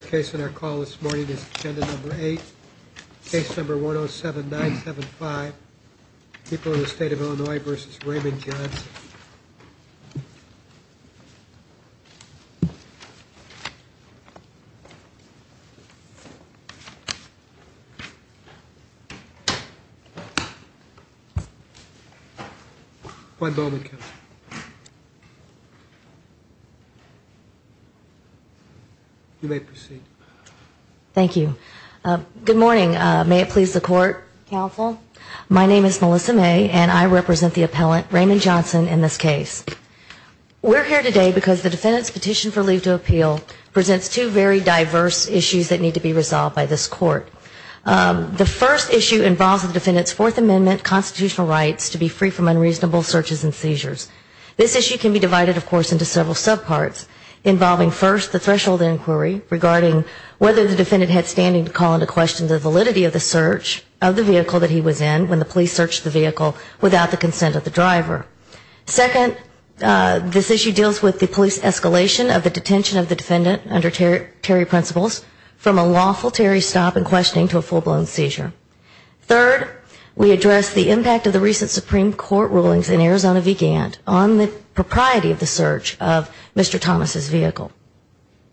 Case in our call this morning is agenda number eight, case number 107-975, People in the State of Illinois v. Raymond Johnson. Juan Bowman. Thank you. You may proceed. Thank you. Good morning. May it please the court, counsel. My name is Melissa May and I represent the appellant, Raymond Johnson, in this case. We're here today because the defendant's petition for leave to appeal presents two very diverse issues that need to be resolved by this court. The first issue involves the defendant's Fourth Amendment constitutional rights to be free from unreasonable searches and seizures. This issue can be divided, of course, into several subparts, involving first the threshold inquiry regarding whether the defendant had standing to call into question the validity of the search of the vehicle that he was in when the police searched the vehicle without the consent of the driver. Second, this issue deals with the police escalation of the detention of the defendant under Terry principles from a lawful Terry stop in question to a full-blown seizure. Third, we address the impact of the recent Supreme Court rulings in Arizona v. Gant on the propriety of the search of Mr. Thomas' vehicle.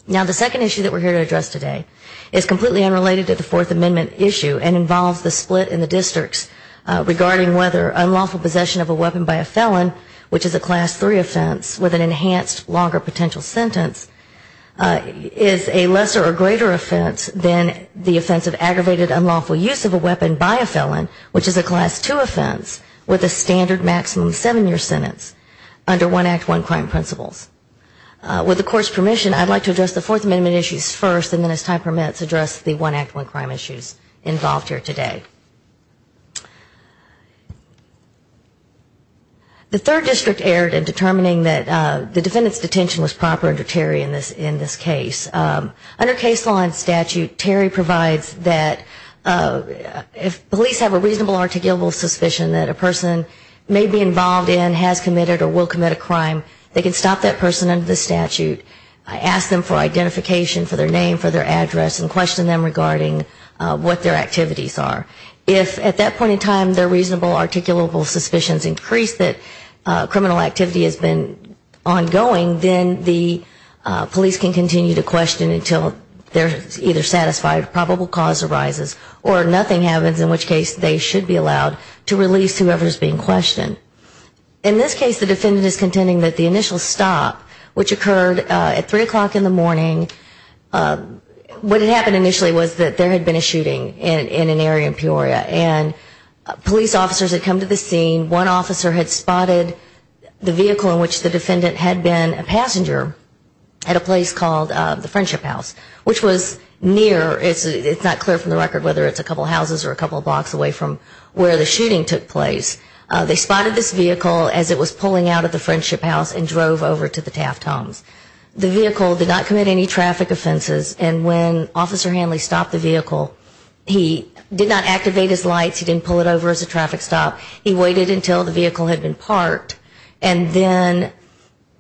Now, the second issue that we're here to address today is completely unrelated to the Fourth Amendment issue and involves the split in the districts regarding whether unlawful possession of a weapon by a felon, which is a class three offense with an enhanced longer potential sentence, is a lesser or greater offense than the offense of aggravated unlawful use of a weapon by a felon, which is a class two offense with a standard maximum seven-year sentence under One Act, One Crime principles. With the court's permission, I'd like to address the Fourth Amendment issues first and then, as time permits, address the One Act, One Crime issues involved here today. The third district erred in determining that the defendant's detention was proper under Terry in this case. Under case law and statute, Terry provides that if police have a reasonable articulable suspicion that a person may be involved in, has committed or will commit a crime, they can stop that person under the statute, ask them for identification, for their name, for their address, and question them regarding what their activities are. If at that point in time their reasonable articulable suspicions increase that criminal activity has been ongoing, then the police can continue to question until they're either satisfied, probable cause arises, or nothing happens in which case they should be allowed to release whoever is being questioned. In this case the defendant is contending that the initial stop, which occurred at 3 o'clock in the morning, what had happened initially was that there had been a shooting in an area in Peoria, and police officers had come to the scene, one officer had spotted the vehicle in which the defendant had been a passenger at a place called the Friendship House, which was near, it's not clear from the record whether it's a couple houses or a couple blocks away from where the shooting took place, they spotted this vehicle as it was pulling out of the Friendship House and drove over to the Taft Homes. The vehicle did not commit any traffic offenses, and when Officer Hanley stopped the vehicle, he did not activate his lights, he didn't pull it over as a traffic stop, he waited until the vehicle had been parked, and then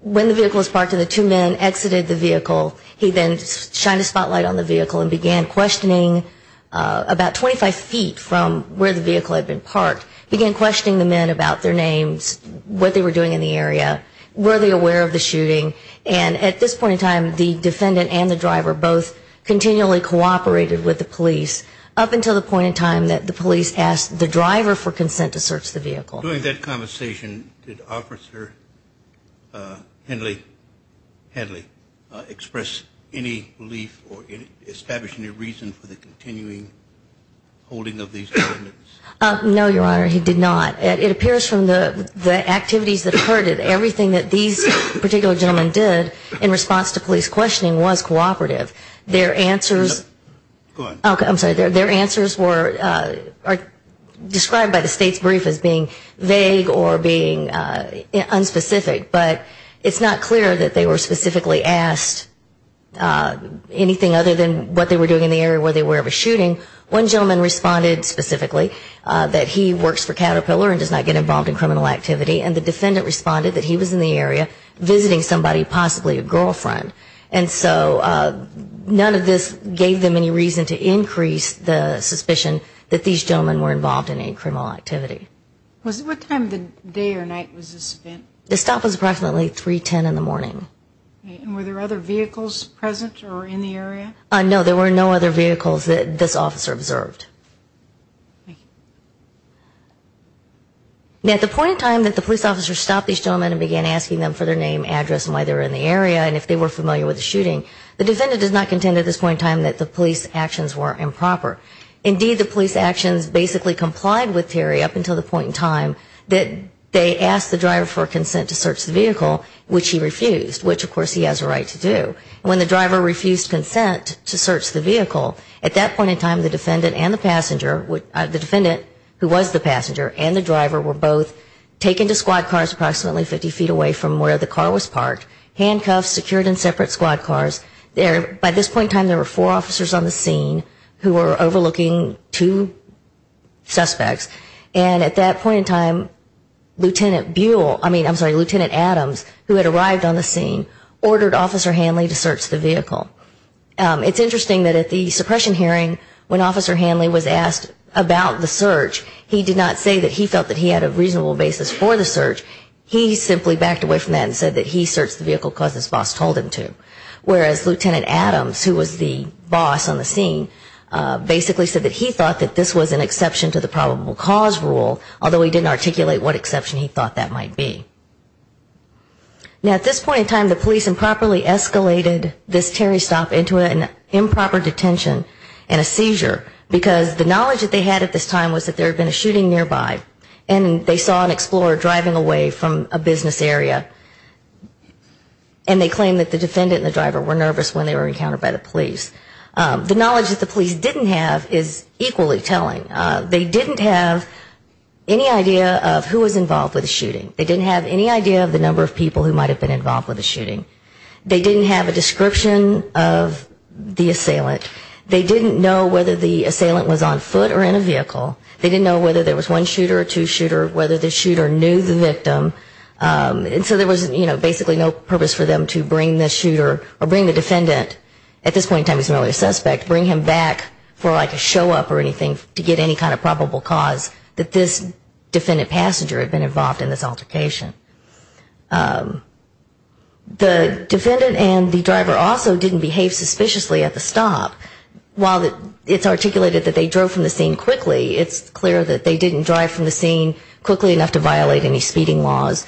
when the vehicle was parked and the two men exited the vehicle, he then shined a spotlight on the vehicle and began questioning about 25 feet from where the vehicle had been parked, began questioning the men about their names, what they were doing in the area, were they aware of the shooting, and at this point in time the defendant and the driver both continually cooperated with the police up until the point in time that the police asked the driver for consent to search the vehicle. During that conversation, did Officer Hanley express any belief or establish any reason for the continuing holding of these defendants? No, Your Honor, he did not. It appears from the activities that occurred that everything that these particular gentlemen did in response to police questioning was cooperative. Their answers were described by the state's brief as being nonviolent, and they were not. They were not vague or being unspecific, but it's not clear that they were specifically asked anything other than what they were doing in the area, were they aware of a shooting. One gentleman responded specifically that he works for Caterpillar and does not get involved in criminal activity, and the defendant responded that he was in the area visiting somebody, possibly a girlfriend, and so none of this gave them any reason to increase the suspicion that these gentlemen were involved. At the point in time that the police officers stopped these gentlemen and began asking them for their name, address, and why they were in the area, and if they were familiar with the shooting, the defendant does not contend at this point in time that the police actions were improper. Indeed, the police actions basically complied with the fact that at this point in time that they asked the driver for consent to search the vehicle, which he refused, which of course he has a right to do. When the driver refused consent to search the vehicle, at that point in time the defendant and the passenger, the defendant who was the passenger and the driver were both taken to squad cars approximately 50 feet away from where the car was parked, handcuffed, secured in separate squad cars. By this point in time there were four officers on the scene who were involved. At this point in time, Lieutenant Adams, who had arrived on the scene, ordered Officer Hanley to search the vehicle. It's interesting that at the suppression hearing when Officer Hanley was asked about the search, he did not say that he felt that he had a reasonable basis for the search. He simply backed away from that and said that he searched the vehicle because his boss told him to. Whereas Lieutenant Adams, who was the boss on the scene, basically said that he thought that this was an exception to the probable cause rule, although he didn't articulate what exception he thought that might be. Now at this point in time the police improperly escalated this Terry stop into an improper detention and a seizure, because the knowledge that they had at this time was that there had been a shooting nearby, and they saw an explorer driving away from a business area, and they claimed that the defendant and the driver were nervous when they were encountered by the police. They didn't have any idea of who was involved with the shooting. They didn't have any idea of the number of people who might have been involved with the shooting. They didn't have a description of the assailant. They didn't know whether the assailant was on foot or in a vehicle. They didn't know whether there was one shooter or two shooter, whether the shooter knew the victim. And so there was basically no purpose for them to bring the shooter or bring the defendant, at this point in time, to the scene. So they didn't get any kind of probable cause that this defendant passenger had been involved in this altercation. The defendant and the driver also didn't behave suspiciously at the stop. While it's articulated that they drove from the scene quickly, it's clear that they didn't drive from the scene quickly enough to violate any speeding laws.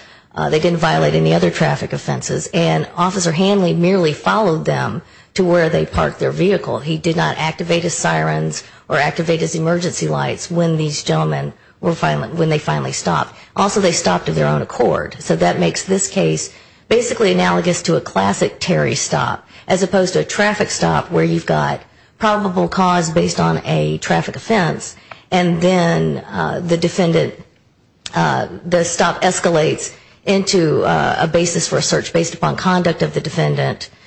They didn't violate any other traffic offenses. And Officer Hanley merely followed them to where they parked their vehicle. He did not activate his sirens or activate his emergency lights when these gentlemen were finally, when they finally stopped. Also they stopped of their own accord. So that makes this case basically analogous to a classic Terry stop, as opposed to a traffic stop where you've got probable cause based on a traffic offense, and then the defendant, the stop escalates into a basis for a search based upon conduct of the defendant, and then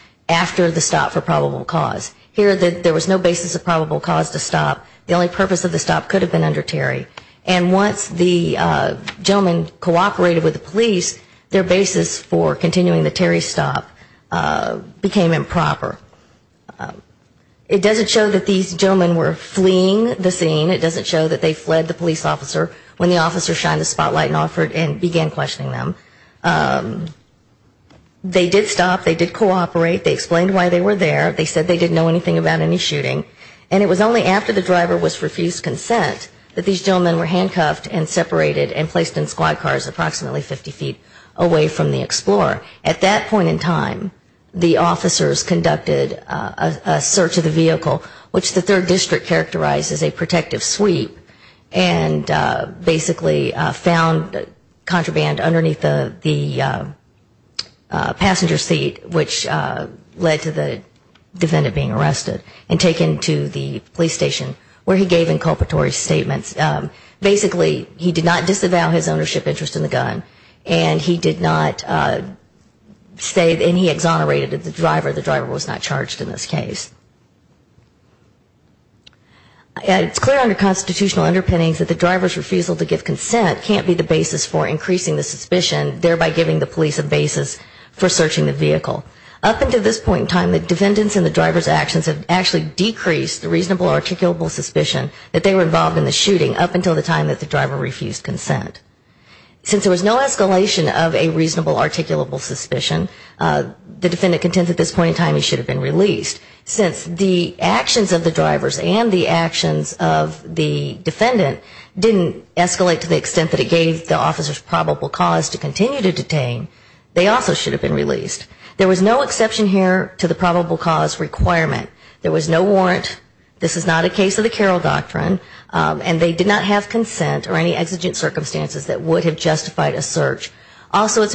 a basis for probable cause. Here there was no basis of probable cause to stop. The only purpose of the stop could have been under Terry. And once the gentleman cooperated with the police, their basis for continuing the Terry stop became improper. It doesn't show that these gentlemen were fleeing the scene. It doesn't show that they fled the police officer when the officer shined the spotlight and offered and began their search. They did stop. They did cooperate. They explained why they were there. They said they didn't know anything about any shooting. And it was only after the driver was refused consent that these gentlemen were handcuffed and separated and placed in squad cars approximately 50 feet away from the Explorer. At that point in time, the officers conducted a search of the vehicle, which the third district characterized as a protective sweep, and basically found contraband underneath the passenger seat, which led to the defendant being arrested and taken to the police station where he gave inculpatory statements. Basically, he did not disavow his ownership interest in the gun, and he did not say, and he exonerated the driver. The driver was not charged in this case. And it's clear under constitutional underpinnings that the driver's refusal to give consent can't be the basis for increasing the suspicion, thereby giving the police a basis for searching the vehicle. Up until this point in time, the defendants and the driver's actions have actually decreased the reasonable articulable suspicion that they were involved in the shooting up until the time that the driver refused consent. Since there was no escalation of a reasonable articulable suspicion, the defendant contends at this point in time he should have been released. Since there was no escalation of a reasonable articulable suspicion, the defendant contends at this point in time he should have been released. Since the actions of the drivers and the actions of the defendant didn't escalate to the extent that it gave the officers probable cause to continue to detain, they also should have been released. There was no exception here to the probable cause requirement. There was no warrant. This is not a case of the Carroll Doctrine, and they did not have consent or any exigent circumstances that would have justified a search. Also, it's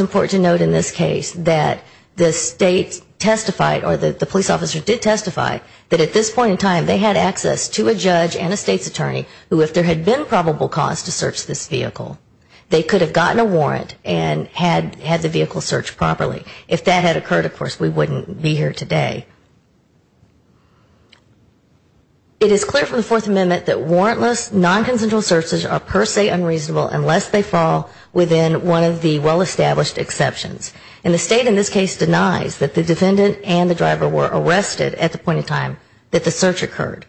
clear from the Fourth Amendment that warrantless non-consensual searches are per se unreasonable unless they fall within one of the well- established exceptions. And the State in this case denies that the defendants and the driver were involved in the shooting up until the defendant and the driver were arrested at the point in time that the search occurred.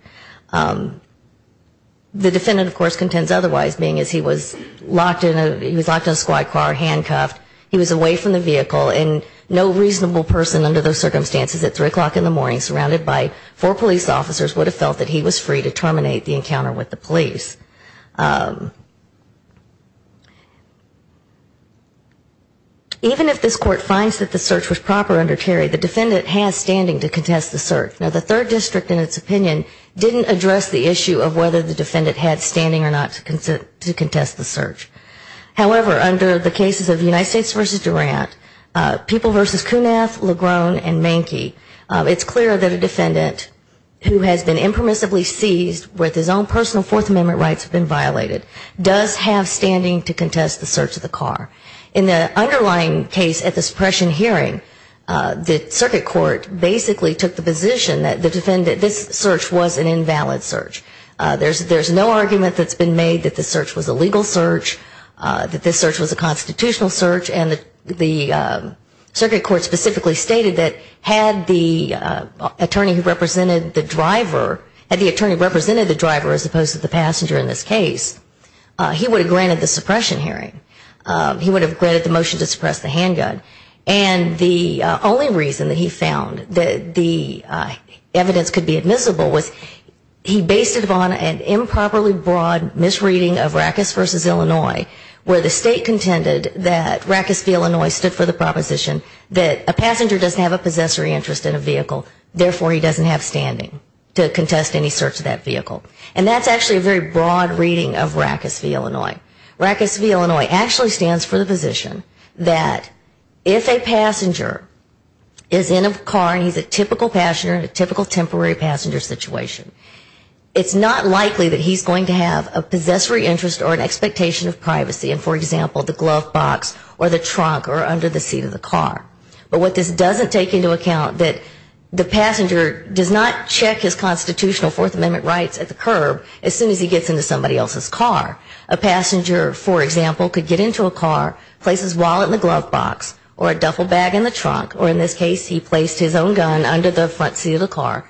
The defendant, of course, contends otherwise, being as he was locked in a squad car, handcuffed, he was away from the vehicle, and no reasonable person under those circumstances at 3 o'clock in the morning, surrounded by four police officers, would have felt that he was free to terminate the encounter with the police. Even if this Court finds that the search was proper under Terry, the defendant has standing to contest the search. Now, the Third District, in its opinion, didn't address the issue of whether the defendant had standing or not to contest the search. However, under the cases of United States v. Durant, People v. Kunath, Legrone, and Manky, it's clear that a defendant who has been impermissibly seized with his own personal Fourth Amendment rights have been violated, does have standing to contest the search of the car. In the underlying case at the suppression hearing, the circuit court basically took the position that the defendant, this search was an invalid search. There's no argument that's been made that the search was a legal search, that this search was a constitutional search, and the circuit court specifically stated that had the attorney who represented the driver, had the attorney who represented the driver not represented the driver as opposed to the passenger in this case, he would have granted the suppression hearing. He would have granted the motion to suppress the handgun. And the only reason that he found that the evidence could be admissible was he based it upon an improperly broad misreading of Rackus v. Illinois, where the state contended that Rackus v. Illinois stood for the proposition that a passenger doesn't have a possessory interest in a vehicle, therefore he doesn't have standing to contest any search of that vehicle. And that's actually a very broad reading of Rackus v. Illinois. Rackus v. Illinois actually stands for the position that if a passenger is in a car, and he's a typical passenger, a typical temporary passenger situation, it's not likely that he's going to have a possessory interest or an expectation of privacy in, for example, the glove box or the trunk or under the seat of the car. But what this doesn't take into account that the passenger does not check his constitutional Fourth Amendment rights at the curb as soon as he gets into somebody else's car. A passenger, for example, could get into a car, place his wallet in the glove box or a duffel bag in the trunk, or in this case he placed his own gun under the front seat of the car,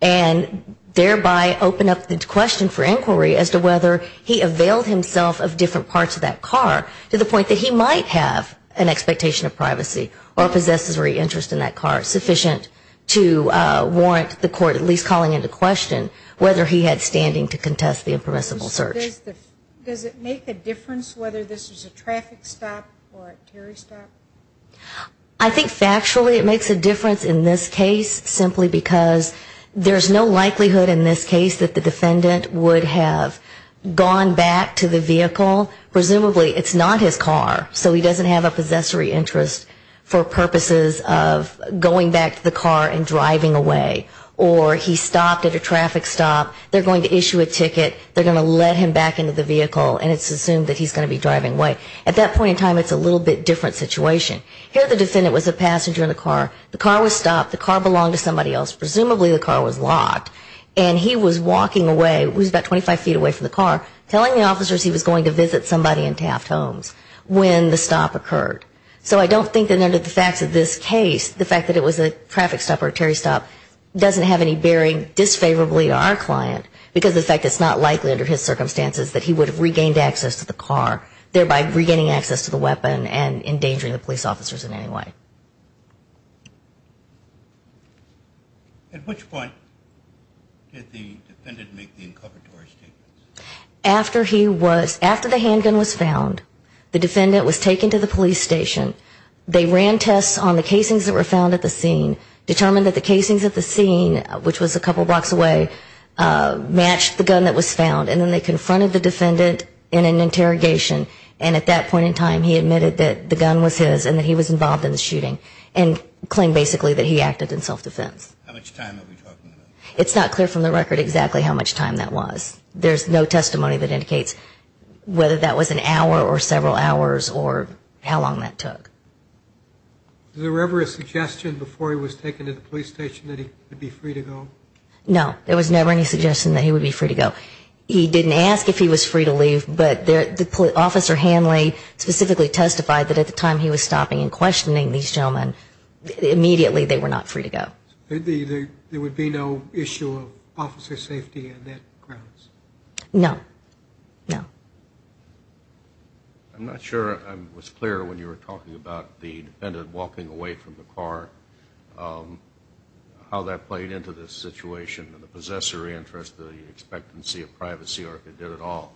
and thereby open up the question for inquiry as to whether he availed himself of different parts of that car to the point that he might have an expectation of privacy or a possessory interest in that car sufficiently. So it's not sufficient to warrant the court at least calling into question whether he had standing to contest the impermissible search. Does it make a difference whether this is a traffic stop or a terror stop? I think factually it makes a difference in this case simply because there's no likelihood in this case that the defendant would have gone back to the vehicle. Presumably it's not his car, so he doesn't have a possessory interest for purposes of going back to the vehicle. It's assumed that he's going to be driving away. Or he stopped at a traffic stop, they're going to issue a ticket, they're going to let him back into the vehicle, and it's assumed that he's going to be driving away. At that point in time it's a little bit different situation. Here the defendant was a passenger in the car, the car was stopped, the car belonged to somebody else, presumably the car was locked, and he was walking away, he was about 25 feet away from the car, telling the officers he was going to visit somebody in Taft Homes when the stop occurred. So I don't think that under the facts of this case, the fact that it was a traffic stop or a terror stop doesn't have any bearing disfavorably to our client, because of the fact that it's not likely under his circumstances that he would have regained access to the car, thereby regaining access to the weapon and endangering the police officers in any way. At which point did the defendant make the inculvatory statements? After he was, after the handgun was found, the defendant was taken to the police station, they ran tests on the casings that were found at the scene, determined that the casings at the scene, which was a couple blocks away, matched the gun that was found, and then they confronted the defendant in an interrogation, and at that point in time he admitted that the gun was his and that he was involved in the shooting, and claimed basically that he acted in self-defense. How much time are we talking about? It's not clear from the record exactly how much time that was. There's no testimony that indicates whether that was an hour or several hours or how long that took. Was there ever a suggestion before he was taken to the police station that he would be free to go? No, there was never any suggestion that he would be free to go. He didn't ask if he was free to leave, but Officer Hanley specifically testified that at the time he was stopping and questioning these gentlemen, immediately they were not free to go. There would be no issue of officer safety on that grounds? No, no. I'm not sure I was clear when you were talking about the defendant walking away from the car, how that played into the situation, the possessor interest, the expectancy of privacy, or if it did at all.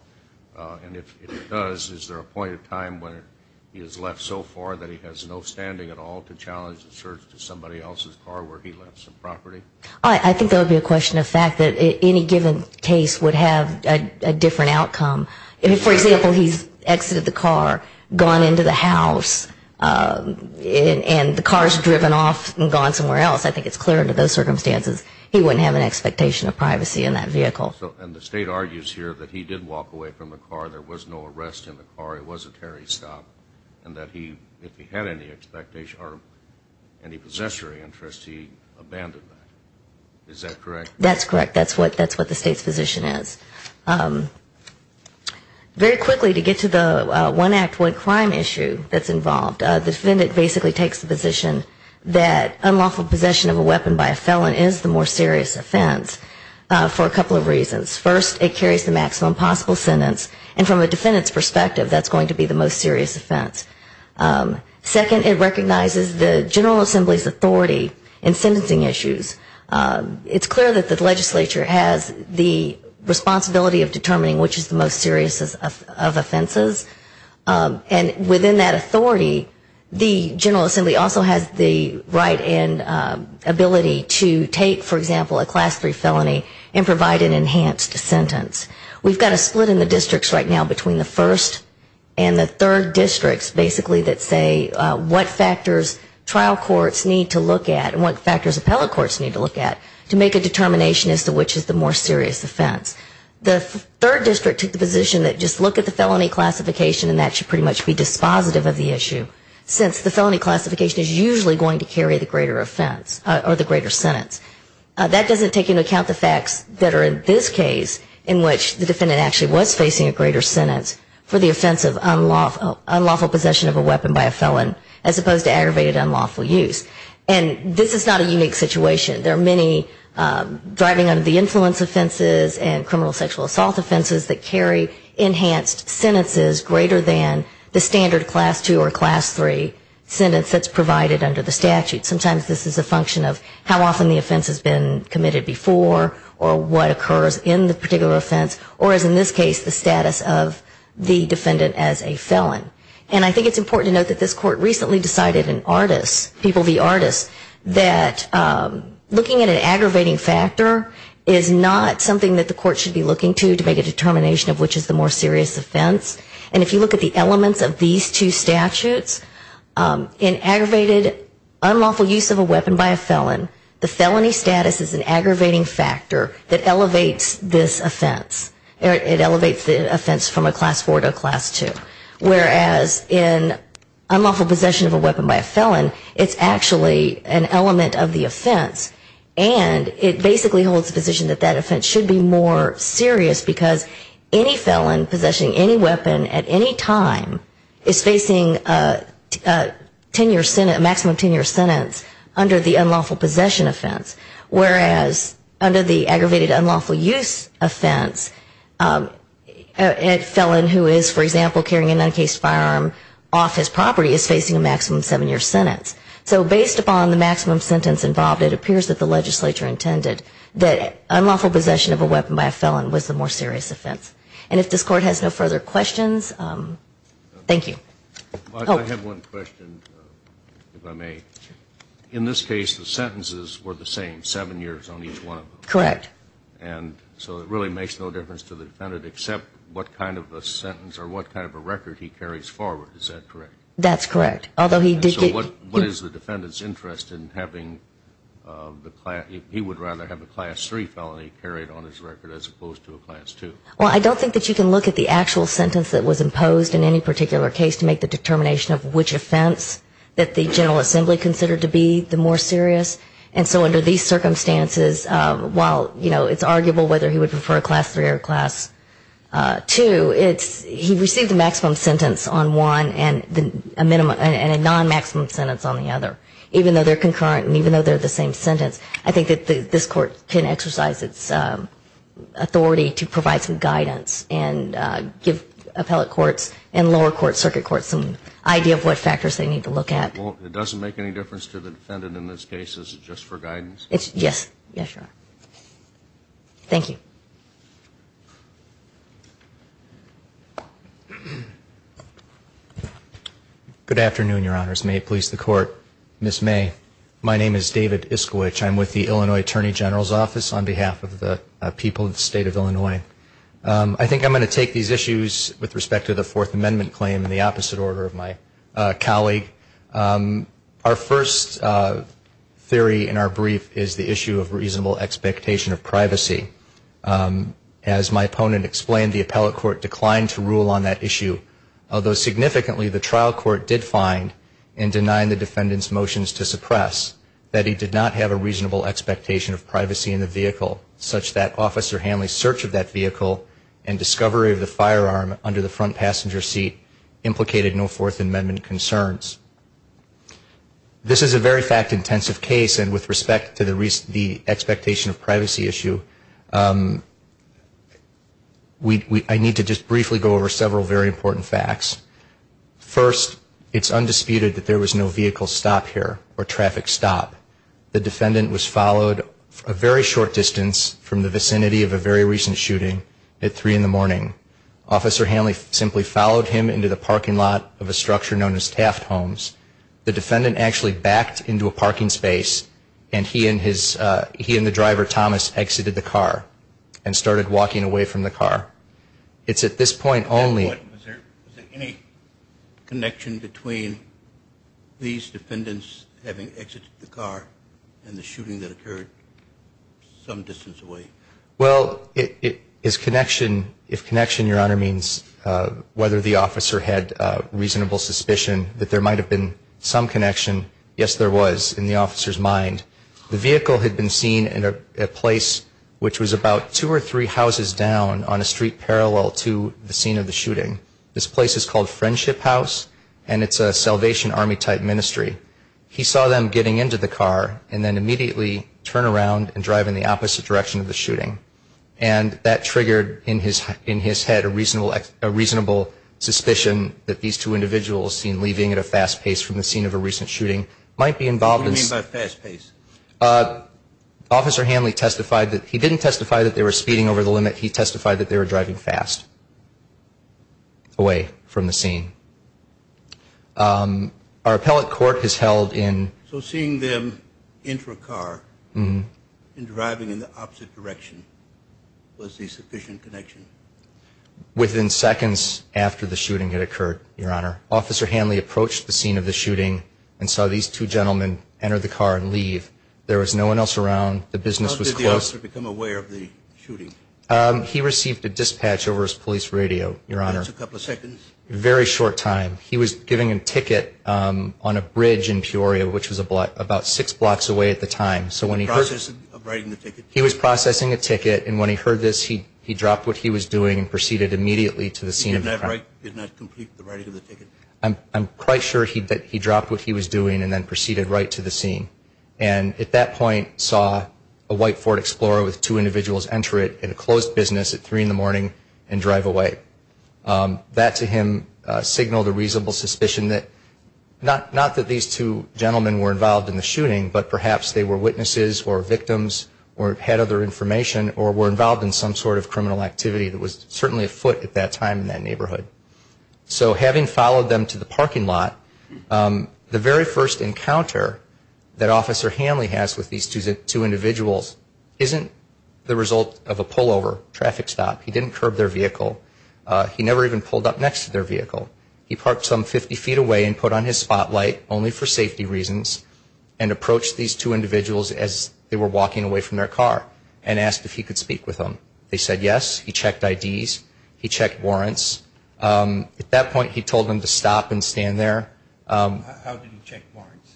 And if it does, is there a point in time when it would have been that he was left so far that he has no standing at all to challenge the search to somebody else's car where he left some property? I think there would be a question of fact that any given case would have a different outcome. If, for example, he's exited the car, gone into the house, and the car's driven off and gone somewhere else, I think it's clear under those circumstances he wouldn't have an expectation of privacy in that vehicle. And the State argues here that he did walk away from the car, there was no arrest in the car, it was a tarry stop, and that if he had any expectation or any possessory interest, he abandoned that. Is that correct? That's correct. That's what the State's position is. Very quickly, to get to the one act, one crime issue that's involved, the defendant basically takes the position that unlawful possession of a property is a serious offense. First, it carries the maximum possible sentence, and from a defendant's perspective, that's going to be the most serious offense. Second, it recognizes the General Assembly's authority in sentencing issues. It's clear that the legislature has the responsibility of determining which is the most serious of offenses, and within that authority, the General Assembly also has the right and ability to take, for example, a Class III felony and provide an enhanced sentence. We've got a split in the districts right now between the first and the third districts, basically, that say what factors trial courts need to look at and what factors appellate courts need to look at to make a determination as to which is the more serious offense. The third district took the position that just look at the felony classification and that should pretty much be dispositive of the issue, since the felony classification is usually going to carry the greater offense or the greater sentence. That doesn't take into account the facts that are in this case, in which the defendant actually was facing a greater sentence for the offense of unlawful possession of a weapon by a felon, as opposed to aggravated unlawful use. And this is not a unique situation. There are many driving under the influence offenses and criminal sexual assault offenses that carry enhanced sentences greater than the standard Class II or Class III sentence that's provided under the statute. Sometimes this is a function of how often the offense has been committed before or what occurs in the particular offense or is, in this case, the status of the defendant as a felon. And I think it's important to note that this Court recently decided in Artists, People v. Artists, that looking at an aggravating factor is not something that the Court should be looking to to make a determination of which is the more serious offense. And if you look at the elements of these two statutes, in aggravated unlawful use of a weapon by a felon, the felony status is an aggravating factor that elevates this offense. It elevates the offense from a Class IV to a Class II. Whereas in unlawful possession of a weapon by a felon, it's actually an element of the offense, and it basically holds the position that that offense should be more serious because any felon possessing any weapon at any time is facing a maximum 10-year sentence under the unlawful possession offense, whereas under the aggravated unlawful use offense, a felon who is, for example, carrying an uncased firearm off his property is facing a maximum seven-year sentence. So based upon the maximum sentence involved, it appears that the legislature intended that unlawful possession of a weapon by a felon was the more serious offense. And if this Court has no further questions, thank you. I have one question, if I may. In this case, the sentences were the same, seven years on each one of them. Correct. And so it really makes no difference to the defendant except what kind of a sentence or what kind of a record he carries forward, is that correct? Or is the defendant's interest in having the class, he would rather have a class three felony carried on his record as opposed to a class two? Well, I don't think that you can look at the actual sentence that was imposed in any particular case to make the determination of which offense that the General Assembly considered to be the more serious. And so under these circumstances, while, you know, it's arguable whether he would prefer a class three or a class two, it's, he received a maximum sentence on one and a non-maximum sentence on the other. Even though they're concurrent and even though they're the same sentence, I think that this Court can exercise its authority to provide some guidance and give appellate courts and lower court, circuit courts, some idea of what factors they need to look at. Well, it doesn't make any difference to the defendant in this case, is it just for guidance? Yes, yes, Your Honor. Thank you. Good afternoon, Your Honors. May it please the Court. Ms. May, my name is David Iskowich. I'm with the Illinois Attorney General's Office on behalf of the people of the State of Illinois. I think I'm going to take these issues with respect to the Fourth Amendment claim in the opposite order of my colleague. Our first theory in our brief is the issue of reasonable expectation of privacy. As my opponent explained, the appellate court declined to rule on that issue, although significantly the trial court did find, in denying the defendant's motions to suppress, that he did not have a reasonable expectation of privacy in the vehicle, such that Officer Hanley's search of that vehicle and discovery of the firearm under the front passenger seat implicated no Fourth Amendment concerns. This is a very fact-intensive case, and with respect to the expectation of privacy issue, I need to just briefly go over several very important facts. First, it's undisputed that there was no vehicle stop here, or traffic stop. The defendant was followed a very short distance from the vicinity of a very recent shooting at 3 in the morning. Officer Hanley simply followed him into the parking lot of a structure known as Taft Homes. The defendant actually backed into a parking space, and he and the driver, Thomas, exited the car, and started walking away from the car. It's at this point only... Is there any connection between these defendants having exited the car and the shooting that occurred some distance away? Well, if connection, Your Honor, means whether the officer had reasonable suspicion that there might have been a vehicle stop, there might have been some connection. Yes, there was, in the officer's mind. The vehicle had been seen in a place which was about two or three houses down on a street parallel to the scene of the shooting. This place is called Friendship House, and it's a Salvation Army-type ministry. He saw them getting into the car, and then immediately turn around and drive in the opposite direction of the shooting. And that triggered in his head a reasonable suspicion that these two individuals seen leaving at a fast pace. from the scene of a recent shooting, might be involved in... What do you mean by fast pace? Officer Hanley testified that he didn't testify that they were speeding over the limit. He testified that they were driving fast away from the scene. Our appellate court has held in... So seeing them enter a car and driving in the opposite direction was the sufficient connection? Within seconds after the shooting had occurred, Your Honor. Officer Hanley approached the scene of the shooting and saw these two gentlemen enter the car and leave. There was no one else around. The business was closed. How did the officer become aware of the shooting? He received a dispatch over his police radio, Your Honor. That's a couple of seconds. Very short time. He was giving him a ticket on a bridge in Peoria, which was about six blocks away at the time. Processing of writing the ticket? He was processing a ticket. And when he heard this, he dropped what he was doing and proceeded immediately to the scene of the crime. He did not complete the writing of the ticket? I'm quite sure that he dropped what he was doing and then proceeded right to the scene. And at that point saw a white Ford Explorer with two individuals enter it in a closed business at three in the morning and drive away. That to him signaled a reasonable suspicion that... or had other information or were involved in some sort of criminal activity that was certainly afoot at that time in that neighborhood. So having followed them to the parking lot, the very first encounter that Officer Hanley has with these two individuals isn't the result of a pullover, traffic stop. He didn't curb their vehicle. He never even pulled up next to their vehicle. He parked some 50 feet away and put on his spotlight only for safety reasons and approached these two individuals as they were walking away from their car and asked if he could speak with them. They said yes. He checked IDs. He checked warrants. At that point he told them to stop and stand there. How did he check warrants?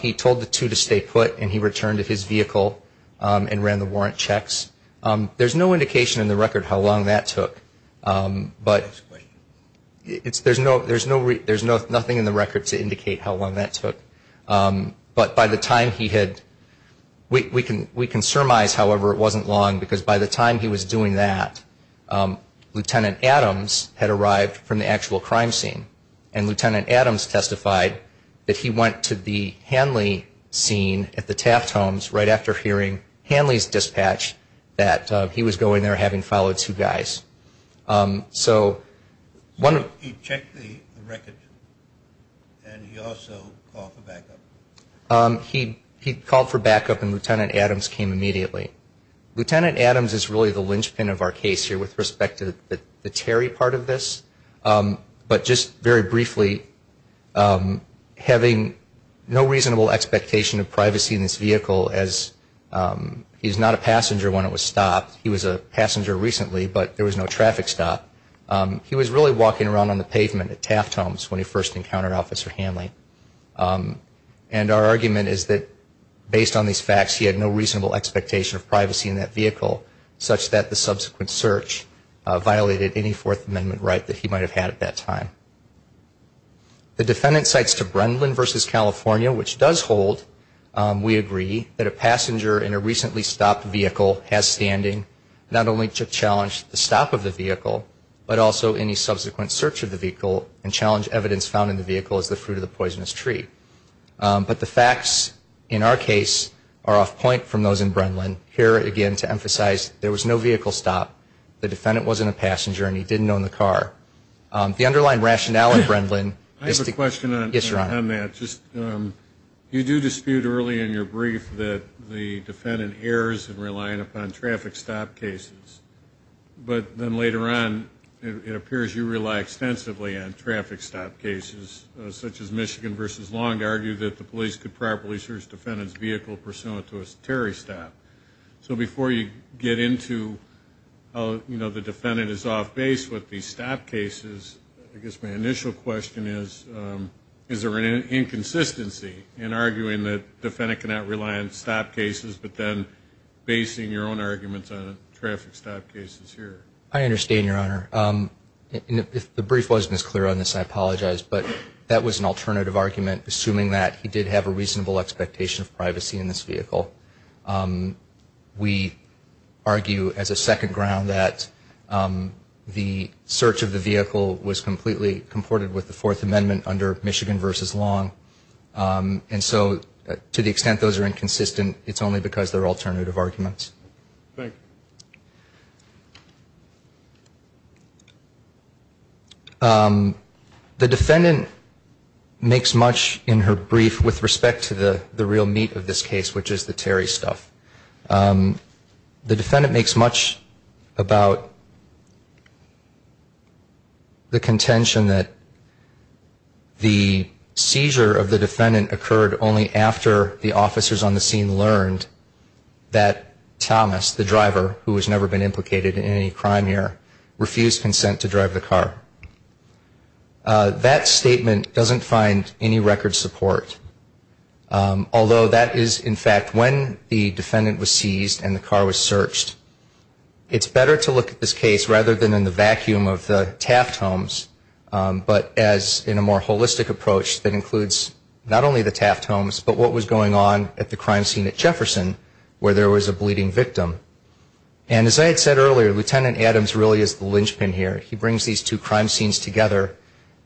He told the two to stay put and he returned to his vehicle and ran the warrant checks. There's no indication in the record how long that took. We can surmise, however, it wasn't long because by the time he was doing that, Lieutenant Adams had arrived from the actual crime scene. And Lieutenant Adams testified that he went to the Hanley scene at the Taft Homes right after hearing Hanley's dispatch that he was going there having followed two guys. So he checked the record and he also called for backup? He called for backup and Lieutenant Adams came immediately. Lieutenant Adams is really the linchpin of our case here with respect to the Terry part of this. But just very briefly, having no reasonable expectation of privacy in this vehicle as he's not a passenger when it was stopped. He was a passenger recently, but there was no traffic stop. He was really walking around on the pavement at Taft Homes when he first encountered Officer Hanley. And our argument is that based on these facts, he had no reasonable expectation of privacy in that vehicle, such that the subsequent search violated any Fourth Amendment right that he might have had at that time. The defendant cites to Brendlin v. California, which does hold, we agree, that a passenger in a recently stopped vehicle has standing, not only to challenge the stop of the vehicle, but also any subsequent search of the vehicle and challenge evidence found in the vehicle as the fruit of the poisonous tree. But the facts in our case are off point from those in Brendlin, here again to emphasize there was no vehicle stop. The defendant wasn't a passenger and he didn't own the car. The underlying rationale in Brendlin is to... I have a question on that. You do dispute early in your brief that the defendant errs in relying upon traffic stop cases. But then later on, it appears you rely extensively on traffic stop cases, such as Michigan v. Long to argue that the police could properly search the defendant's vehicle pursuant to a Terry stop. So before you get into how the defendant is off base with these stop cases, I guess my initial question is, is there an inconsistency in arguing that the defendant cannot rely on stop cases, but then basing your own arguments on traffic stop cases here? I understand, Your Honor. If the brief wasn't as clear on this, I apologize. But that was an alternative argument, assuming that he did have a reasonable expectation of privacy in this vehicle. We argue as a second ground that the search of the vehicle was completely comported with the Fourth Amendment under Michigan v. Long. And so to the extent those are inconsistent, it's only because they're alternative arguments. The defendant makes much in her brief with respect to the real meat of this case, which is the Terry stuff. The defendant makes much about the contention that the seizure of the defendant occurred only after the officers on the scene learned that Thomas, the driver, who has never been implicated in any crime here, refused consent to drive the car. That statement doesn't find any record support. Although that is, in fact, when the defendant was seized and the car was searched. It's better to look at this case rather than in the vacuum of the Taft homes, but as in a more holistic approach that includes not only the Taft homes, but what was going on at the crime scene at Jefferson where there was a bleeding victim. And as I had said earlier, Lt. Adams really is the linchpin here. He brings these two crime scenes together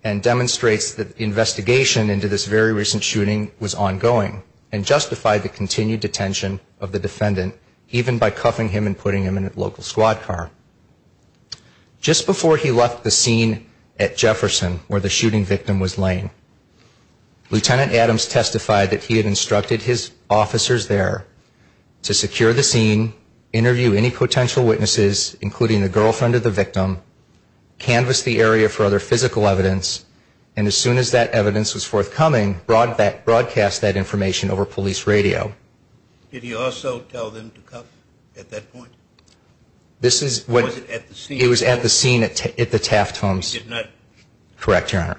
and demonstrates that the investigation into this very recent shooting was ongoing and justified the continued detention of the defendant, even by cuffing him and putting him in a local squad car. Just before he left the scene at Jefferson where the shooting victim was laying, Lt. Adams testified that he had instructed his officers there to secure the scene, interview any potential witnesses, including the girlfriend of the victim, canvas the area for other physical evidence, and as soon as that evidence was forthcoming, broadcast that information over police radio. Did he also tell them to cuff at that point? It was at the scene at the Taft homes. Correct, Your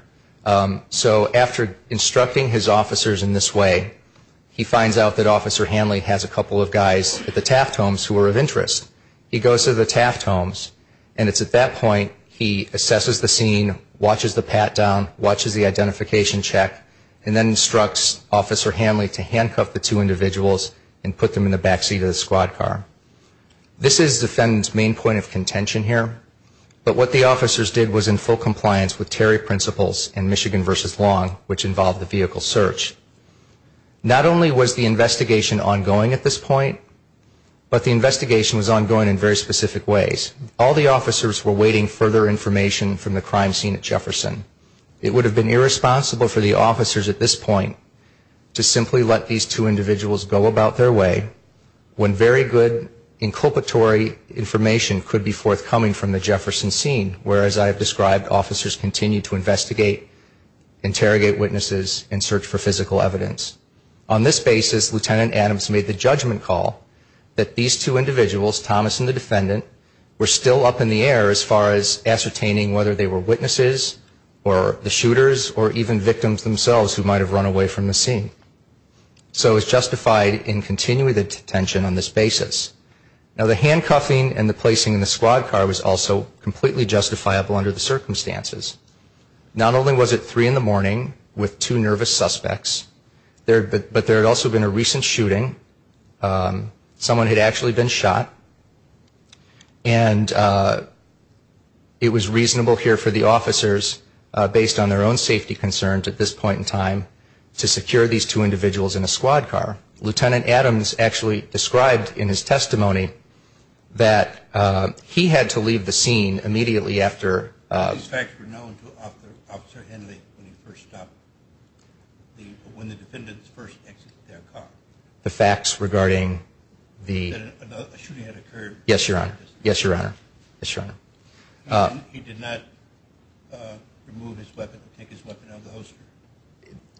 Honor. So after instructing his officers in this way, he finds out that Officer Hanley has a couple of guys at the Taft homes who are of interest. He goes to the Taft homes, and it's at that point he assesses the scene, watches the pat-down, watches the identification check, and then instructs Officer Hanley to handcuff the two individuals and put them in the back seat of the squad car. This is the defendant's main point of contention here, but what the officers did was in full compliance with Terry Principles and Michigan v. Long, which involved the vehicle search. Not only was the investigation ongoing at this point, but the investigation was ongoing in very specific ways. All the officers were awaiting further information from the crime scene at Jefferson. It would have been irresponsible for the officers at this point to simply let these two individuals go about their way when very good inculpatory information could be forthcoming from the Jefferson scene, whereas I have described officers continue to investigate, interrogate witnesses, and search for physical evidence. On this basis, Lieutenant Adams made the judgment call that these two individuals, Thomas and the defendant, were still up in the air as far as ascertaining whether they were witnesses or the shooters or even victims themselves who might have run away from the scene. So it was justified in continuing the detention on this basis. Now, the handcuffing and the placing in the squad car was also completely justifiable under the circumstances. Not only was it 3 in the morning with two nervous suspects, but there had also been a recent shooting. Someone had actually been shot, and it was reasonable here for the officers based on their own safety concerns at this point in time to secure these two individuals in a squad car. Lieutenant Adams actually described in his testimony that he had to leave the scene immediately after... These facts were known to Officer Henley when he first stopped, when the defendants first exited their car. The facts regarding the...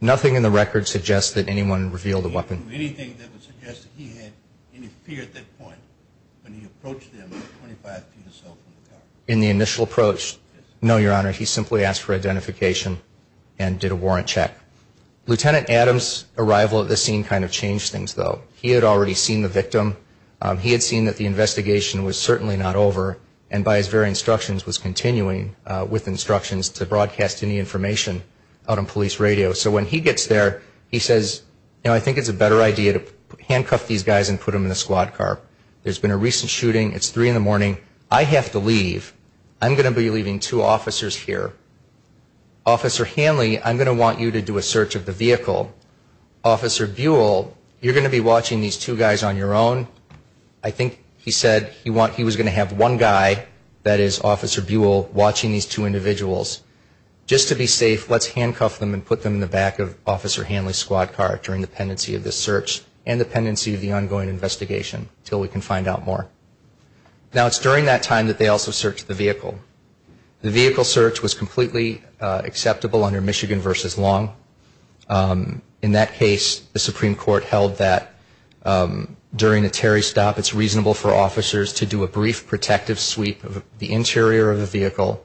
Nothing in the record suggests that anyone revealed a weapon. In the initial approach, no, Your Honor, he simply asked for identification and did a warrant check. Lieutenant Adams' arrival at the scene kind of changed things, though. He had already seen the victim, he had seen that the investigation was certainly not over, and by his very instructions was continuing with instructions to broadcast any information out on police radio. So when he gets there, he says, you know, I think it's a better idea to handcuff these guys and put them in the squad car. There's been a recent shooting, it's 3 in the morning, I have to leave. I'm going to be leaving two officers here. Officer Henley, I'm going to want you to do a search of the vehicle. Officer Buell, you're going to be watching these two guys on your own. I think he said he was going to have one guy, that is Officer Buell, watching these two individuals. Just to be safe, let's handcuff them and put them in the back of Officer Henley's squad car during the pendency of this search and the pendency of the ongoing investigation until we can find out more. Now, it's during that time that they also searched the vehicle. The vehicle search was completely acceptable under Michigan v. Long. In that case, the Supreme Court held that during a Terry stop, it's reasonable for officers to do a brief protective sweep of the interior of the vehicle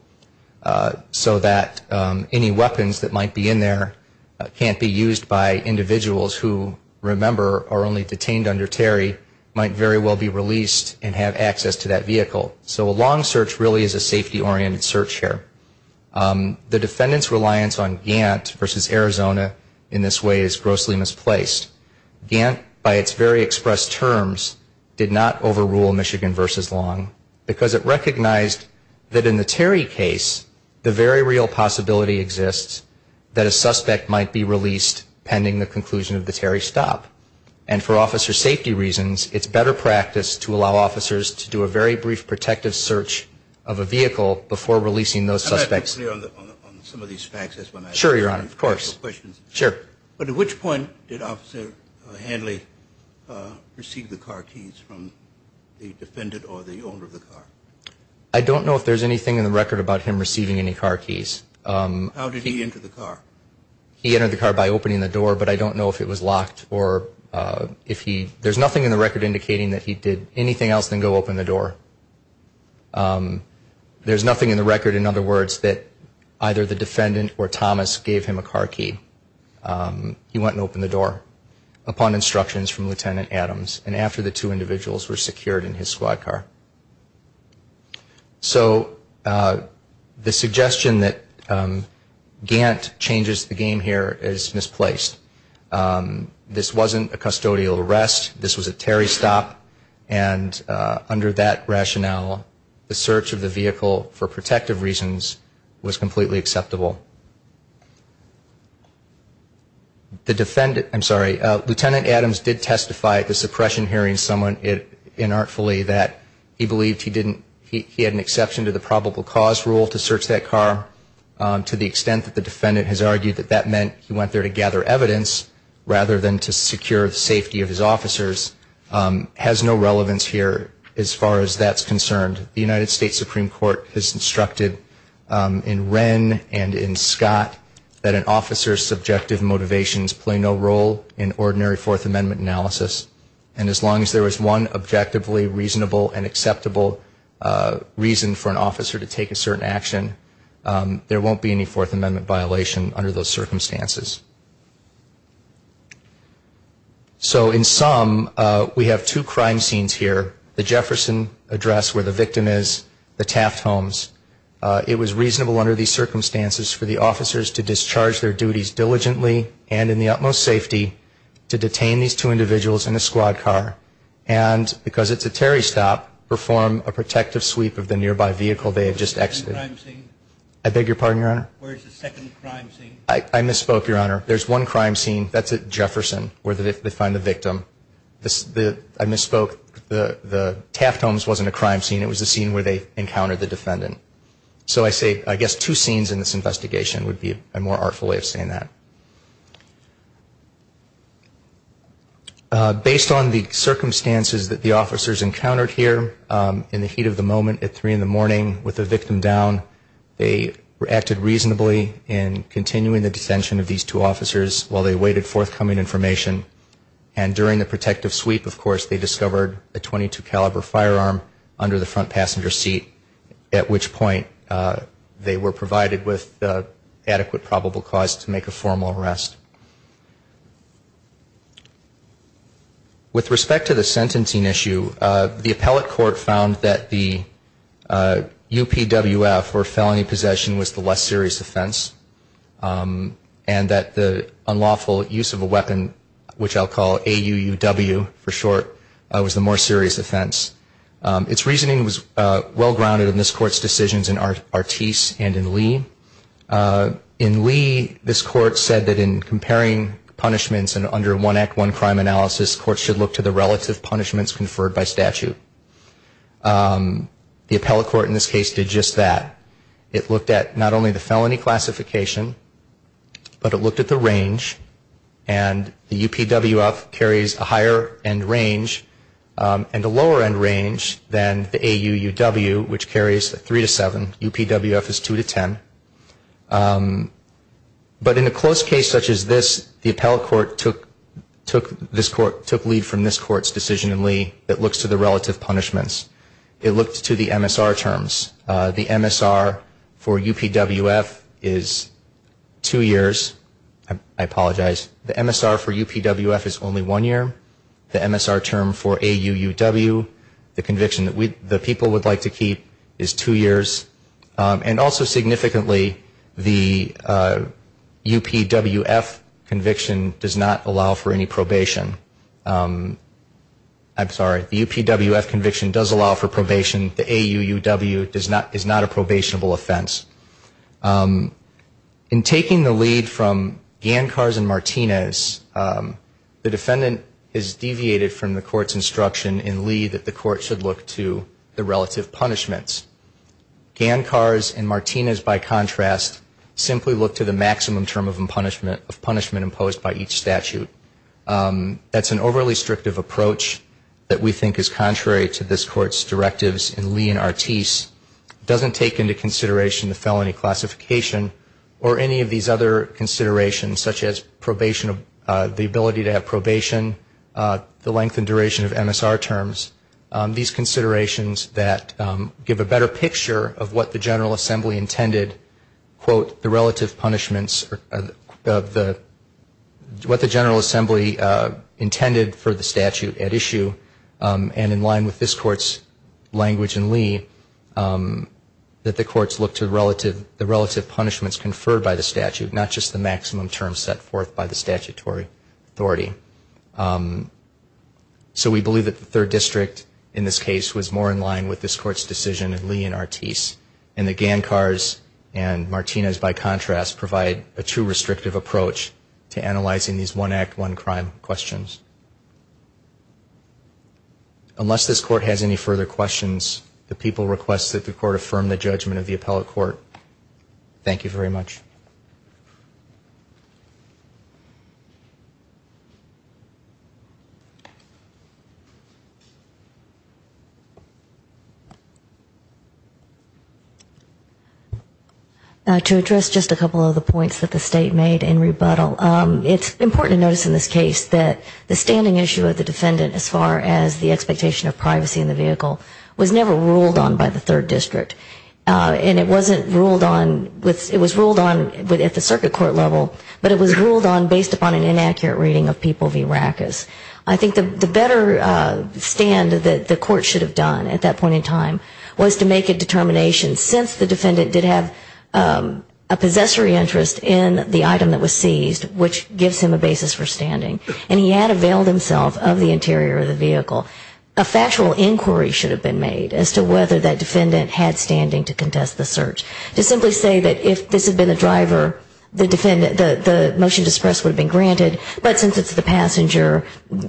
so that any weapons that might be in there can't be used by individuals who, remember, are only detained under Terry, might very well be released and have access to that vehicle. So a Long search really is a safety-oriented search here. The defendant's reliance on Gant v. Arizona in this way is grossly misplaced. Gant, by its very expressed terms, did not overrule Michigan v. Long because it recognized that in the Terry case, the very real possibility exists that a suspect might be released pending the conclusion of the Terry stop. And for officer safety reasons, it's better practice to allow officers to do a very brief protective search of a vehicle before releasing those suspects. But at which point did Officer Henley receive the car keys from the defendant or the owner of the car? I don't know if there's anything in the record about him receiving any car keys. How did he enter the car? He entered the car by opening the door, but I don't know if it was locked or if he, there's nothing in the record indicating that he did anything else than go open the door. There's nothing in the record, in other words, that either the defendant or Thomas gave him a car key. He went and opened the door upon instructions from Lieutenant Adams and after the two individuals were secured in his squad car. So the suggestion that Gant changes the game here is misplaced. This wasn't a custodial arrest. This was a Terry stop, and under that rationale, the search of the vehicle for protective reasons was completely acceptable. The defendant, I'm sorry, Lieutenant Adams did testify at the suppression hearing, somewhat inartfully, that he believed he didn't, he had an exception to the probable cause rule to search that car. To the extent that the defendant has argued that that meant he went there to gather evidence rather than to secure the safety of his officers, has no relevance here as far as that's concerned. The United States Supreme Court has instructed in Wren and in Scott that an officer's subjective motivations play no role in ordinary Fourth Amendment analysis. And as long as there is one objectively reasonable and acceptable reason for an officer to take a certain action, there won't be any Fourth Amendment violation under those circumstances. So in sum, we have two crime scenes here, the Jefferson address where the victim is, the Taft homes. It was reasonable under these circumstances for the officers to discharge their duties diligently and in the utmost safety to detain these two individuals in a squad car and, because it's a Terry stop, perform a protective sweep of the nearby vehicle they had just exited. I beg your pardon, Your Honor? I misspoke, Your Honor. There's one crime scene, that's at Jefferson, where they find the victim. I misspoke, the Taft homes wasn't a crime scene, it was a scene where they encountered the defendant. So I say, I guess two scenes in this investigation would be a more artful way of saying that. Based on the circumstances that the officers encountered here, in the heat of the moment at 3 in the morning with the victim down, they acted reasonably in continuing the detention of these two officers while they awaited forthcoming information. And during the protective sweep, of course, they discovered a .22 caliber firearm under the front passenger seat, at which point they were provided with adequate probable cause to make a formal arrest. With respect to the sentencing issue, the appellate court found that the UPWF, or felony possession, was the less serious offense. And that the unlawful use of a weapon, which I'll call AUUW for short, was the more serious offense. Its reasoning was well grounded in this court's decisions in Artis and in Lee. In Lee, this court said that in comparing punishments under one act, one crime analysis, courts should look to the relative punishments conferred by statute. The appellate court in this case did just that. It looked at not only the felony classification, but it looked at the range, and the UPWF carries a higher end range and a lower end range than the AUUW, which carries a 3 to 7. UPWF is 2 to 10. But in a close case such as this, the appellate court took lead from this court's decision in Lee that looks to the relative punishments. It looked to the MSR terms. The MSR for UPWF is two years. I apologize. The MSR for UPWF is only one year. The MSR term for AUUW, the conviction that the people would like to keep, is two years. And also significantly, the UPWF conviction does not allow for any probation. I'm sorry, the UPWF conviction does allow for probation. The AUUW is not a probationable offense. In taking the lead from Gancars and Martinez, the defendant has deviated from the court's instruction in Lee that the court should look to the relative punishments. Gancars and Martinez, by contrast, simply look to the maximum term of punishment imposed by each statute. That's an overly restrictive approach that we think is contrary to this court's directives in Lee and Ortiz. It doesn't take into consideration the felony classification or any of these other considerations, such as the ability to have probation, the length and duration of MSR terms, these considerations that give a better picture of what the General Assembly intended, quote, the relative punishments, what the General Assembly intended for the statute at issue. And in line with this court's language in Lee, that the courts look to the relative punishments conferred by the statute, not just the maximum term set forth by the statutory authority. So we believe that the third district in this case was more in line with this court's decision in Lee and Ortiz. And the Gancars and Martinez, by contrast, provide a too restrictive approach to analyzing these one act, one crime questions. Unless this court has any further questions, the people request that the court affirm the judgment of the appellate court. Thank you very much. To address just a couple of the points that the state made in rebuttal, it's important to notice in this case that the standing issue of the defendant as far as the expectation of privacy in the vehicle was never ruled on by the third district. And it wasn't ruled on, it was ruled on at the circuit court level, but it was ruled on based upon an inaccurate reading of people v. Rackus. I think the better stand that the court should have done at that point in time was to make a determination since the defendant did have a possessory interest in the item that was seized, which gives him a basis for standing. And he had availed himself of the interior of the vehicle. A factual inquiry should have been made as to whether that defendant had standing to contest the search. To simply say that if this had been the driver, the motion to suppress would have been granted, but since it's the passenger,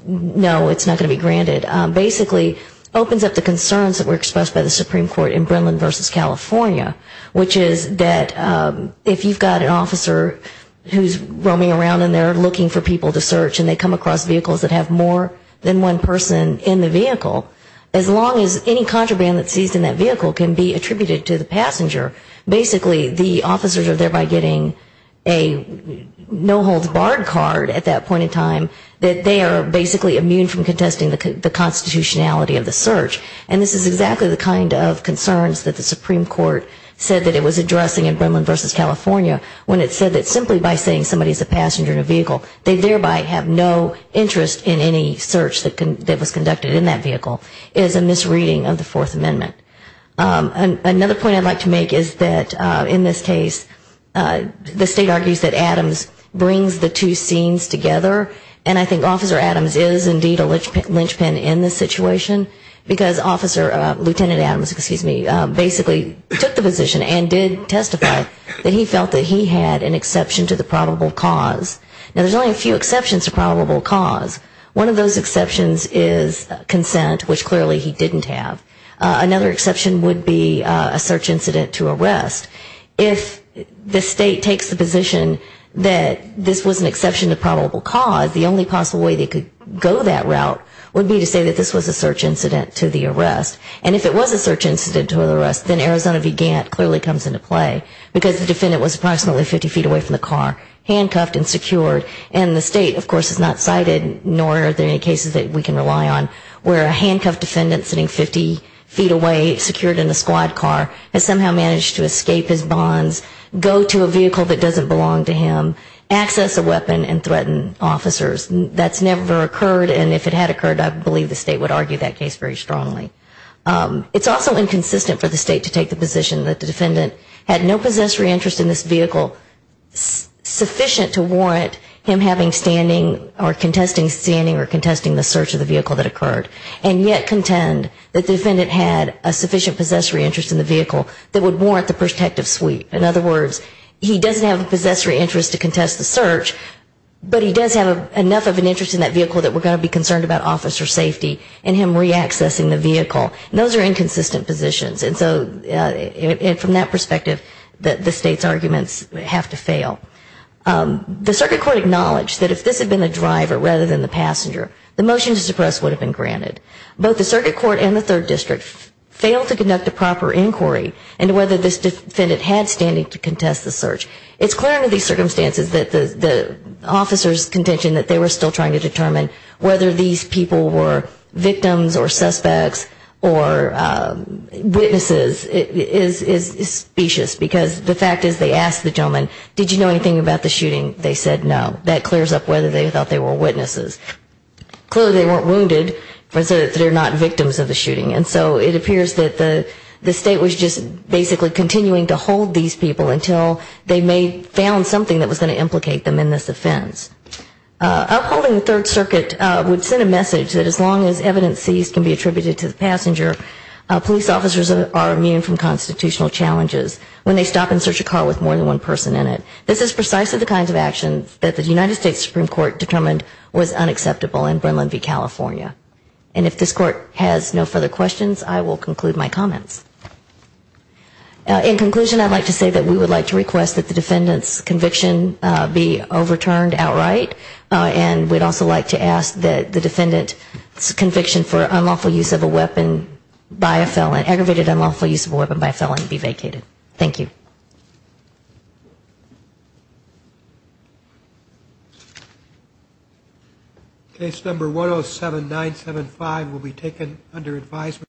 no, it's not going to be granted, basically opens up the concerns that were expressed by the Supreme Court in Brennan v. California, which is that if you've got an officer who's roaming around and they're looking for people to search and they come across vehicles that have more than one person in the vehicle, as long as any contraband that's seized in that vehicle can be attributed to the search, basically the officers are thereby getting a no holds barred card at that point in time that they are basically immune from contesting the constitutionality of the search. And this is exactly the kind of concerns that the Supreme Court said that it was addressing in Brennan v. California when it said that simply by saying somebody's a passenger in a vehicle, they thereby have no interest in any search that was conducted in that vehicle. It is a misreading of the Fourth Amendment. Another point I'd like to make is that in this case, the state argues that Adams brings the two scenes together, and I think Officer Adams is indeed a linchpin in this situation, because Officer, Lieutenant Adams, excuse me, basically took the position and did testify that he felt that he had an exception to the probable cause. Now, there's only a few exceptions to probable cause. One of those exceptions is consent, which clearly he didn't have. Another exception would be a search incident to arrest. If the state takes the position that this was an exception to probable cause, the only possible way they could go that route would be to say that this was a search incident to the arrest, and if it was a search incident to the arrest, then Arizona v. Adams would be sitting 50 feet away from the car, handcuffed and secured. And the state, of course, has not cited, nor are there any cases that we can rely on, where a handcuffed defendant sitting 50 feet away, secured in a squad car, has somehow managed to escape his bonds, go to a vehicle that doesn't belong to him, access a weapon and threaten officers. That's never occurred, and if it had occurred, I believe the state would argue that case very strongly. It's also inconsistent for the state to take the position that the defendant had no possessory interest in this vehicle. In other words, he doesn't have a possessory interest to contest the search, but he does have enough of an interest in that vehicle that we're going to be concerned about officer safety and him reaccessing the vehicle. And those are inconsistent positions. And so from that perspective, the state's arguments have to fail. The circuit court acknowledged that if this had been the driver rather than the passenger, the motion to suppress would have been granted. Both the circuit court and the third district failed to conduct a proper inquiry into whether this defendant had standing to contest the search. It's clear under these circumstances that the officers' contention that they were still trying to determine whether these people were victims or suspects or witnesses is specious. Because the fact is they asked the gentleman, did you know anything about the shooting? They said no. That clears up whether they thought they were witnesses. Clearly they weren't wounded, but they're not victims of the shooting. And so it appears that the state was just basically continuing to hold these people until they found something that was going to implicate them in this offense. Upholding the third circuit would send a message that as long as evidence seized can be attributed to the passenger, police officers are immune from constitutional challenges when they stop and search a car with more than one person in it. This is precisely the kind of actions that the United States Supreme Court determined was unacceptable in Brennan v. California. And if this court has no further questions, I will conclude my comments. In conclusion, I'd like to say that we would like to request that the defendant's conviction be overturned outright. And we'd also like to ask that the defendant's conviction for unlawful use of a weapon by a felon, aggravated unlawful use of a weapon by a felon, be vacated. Thank you.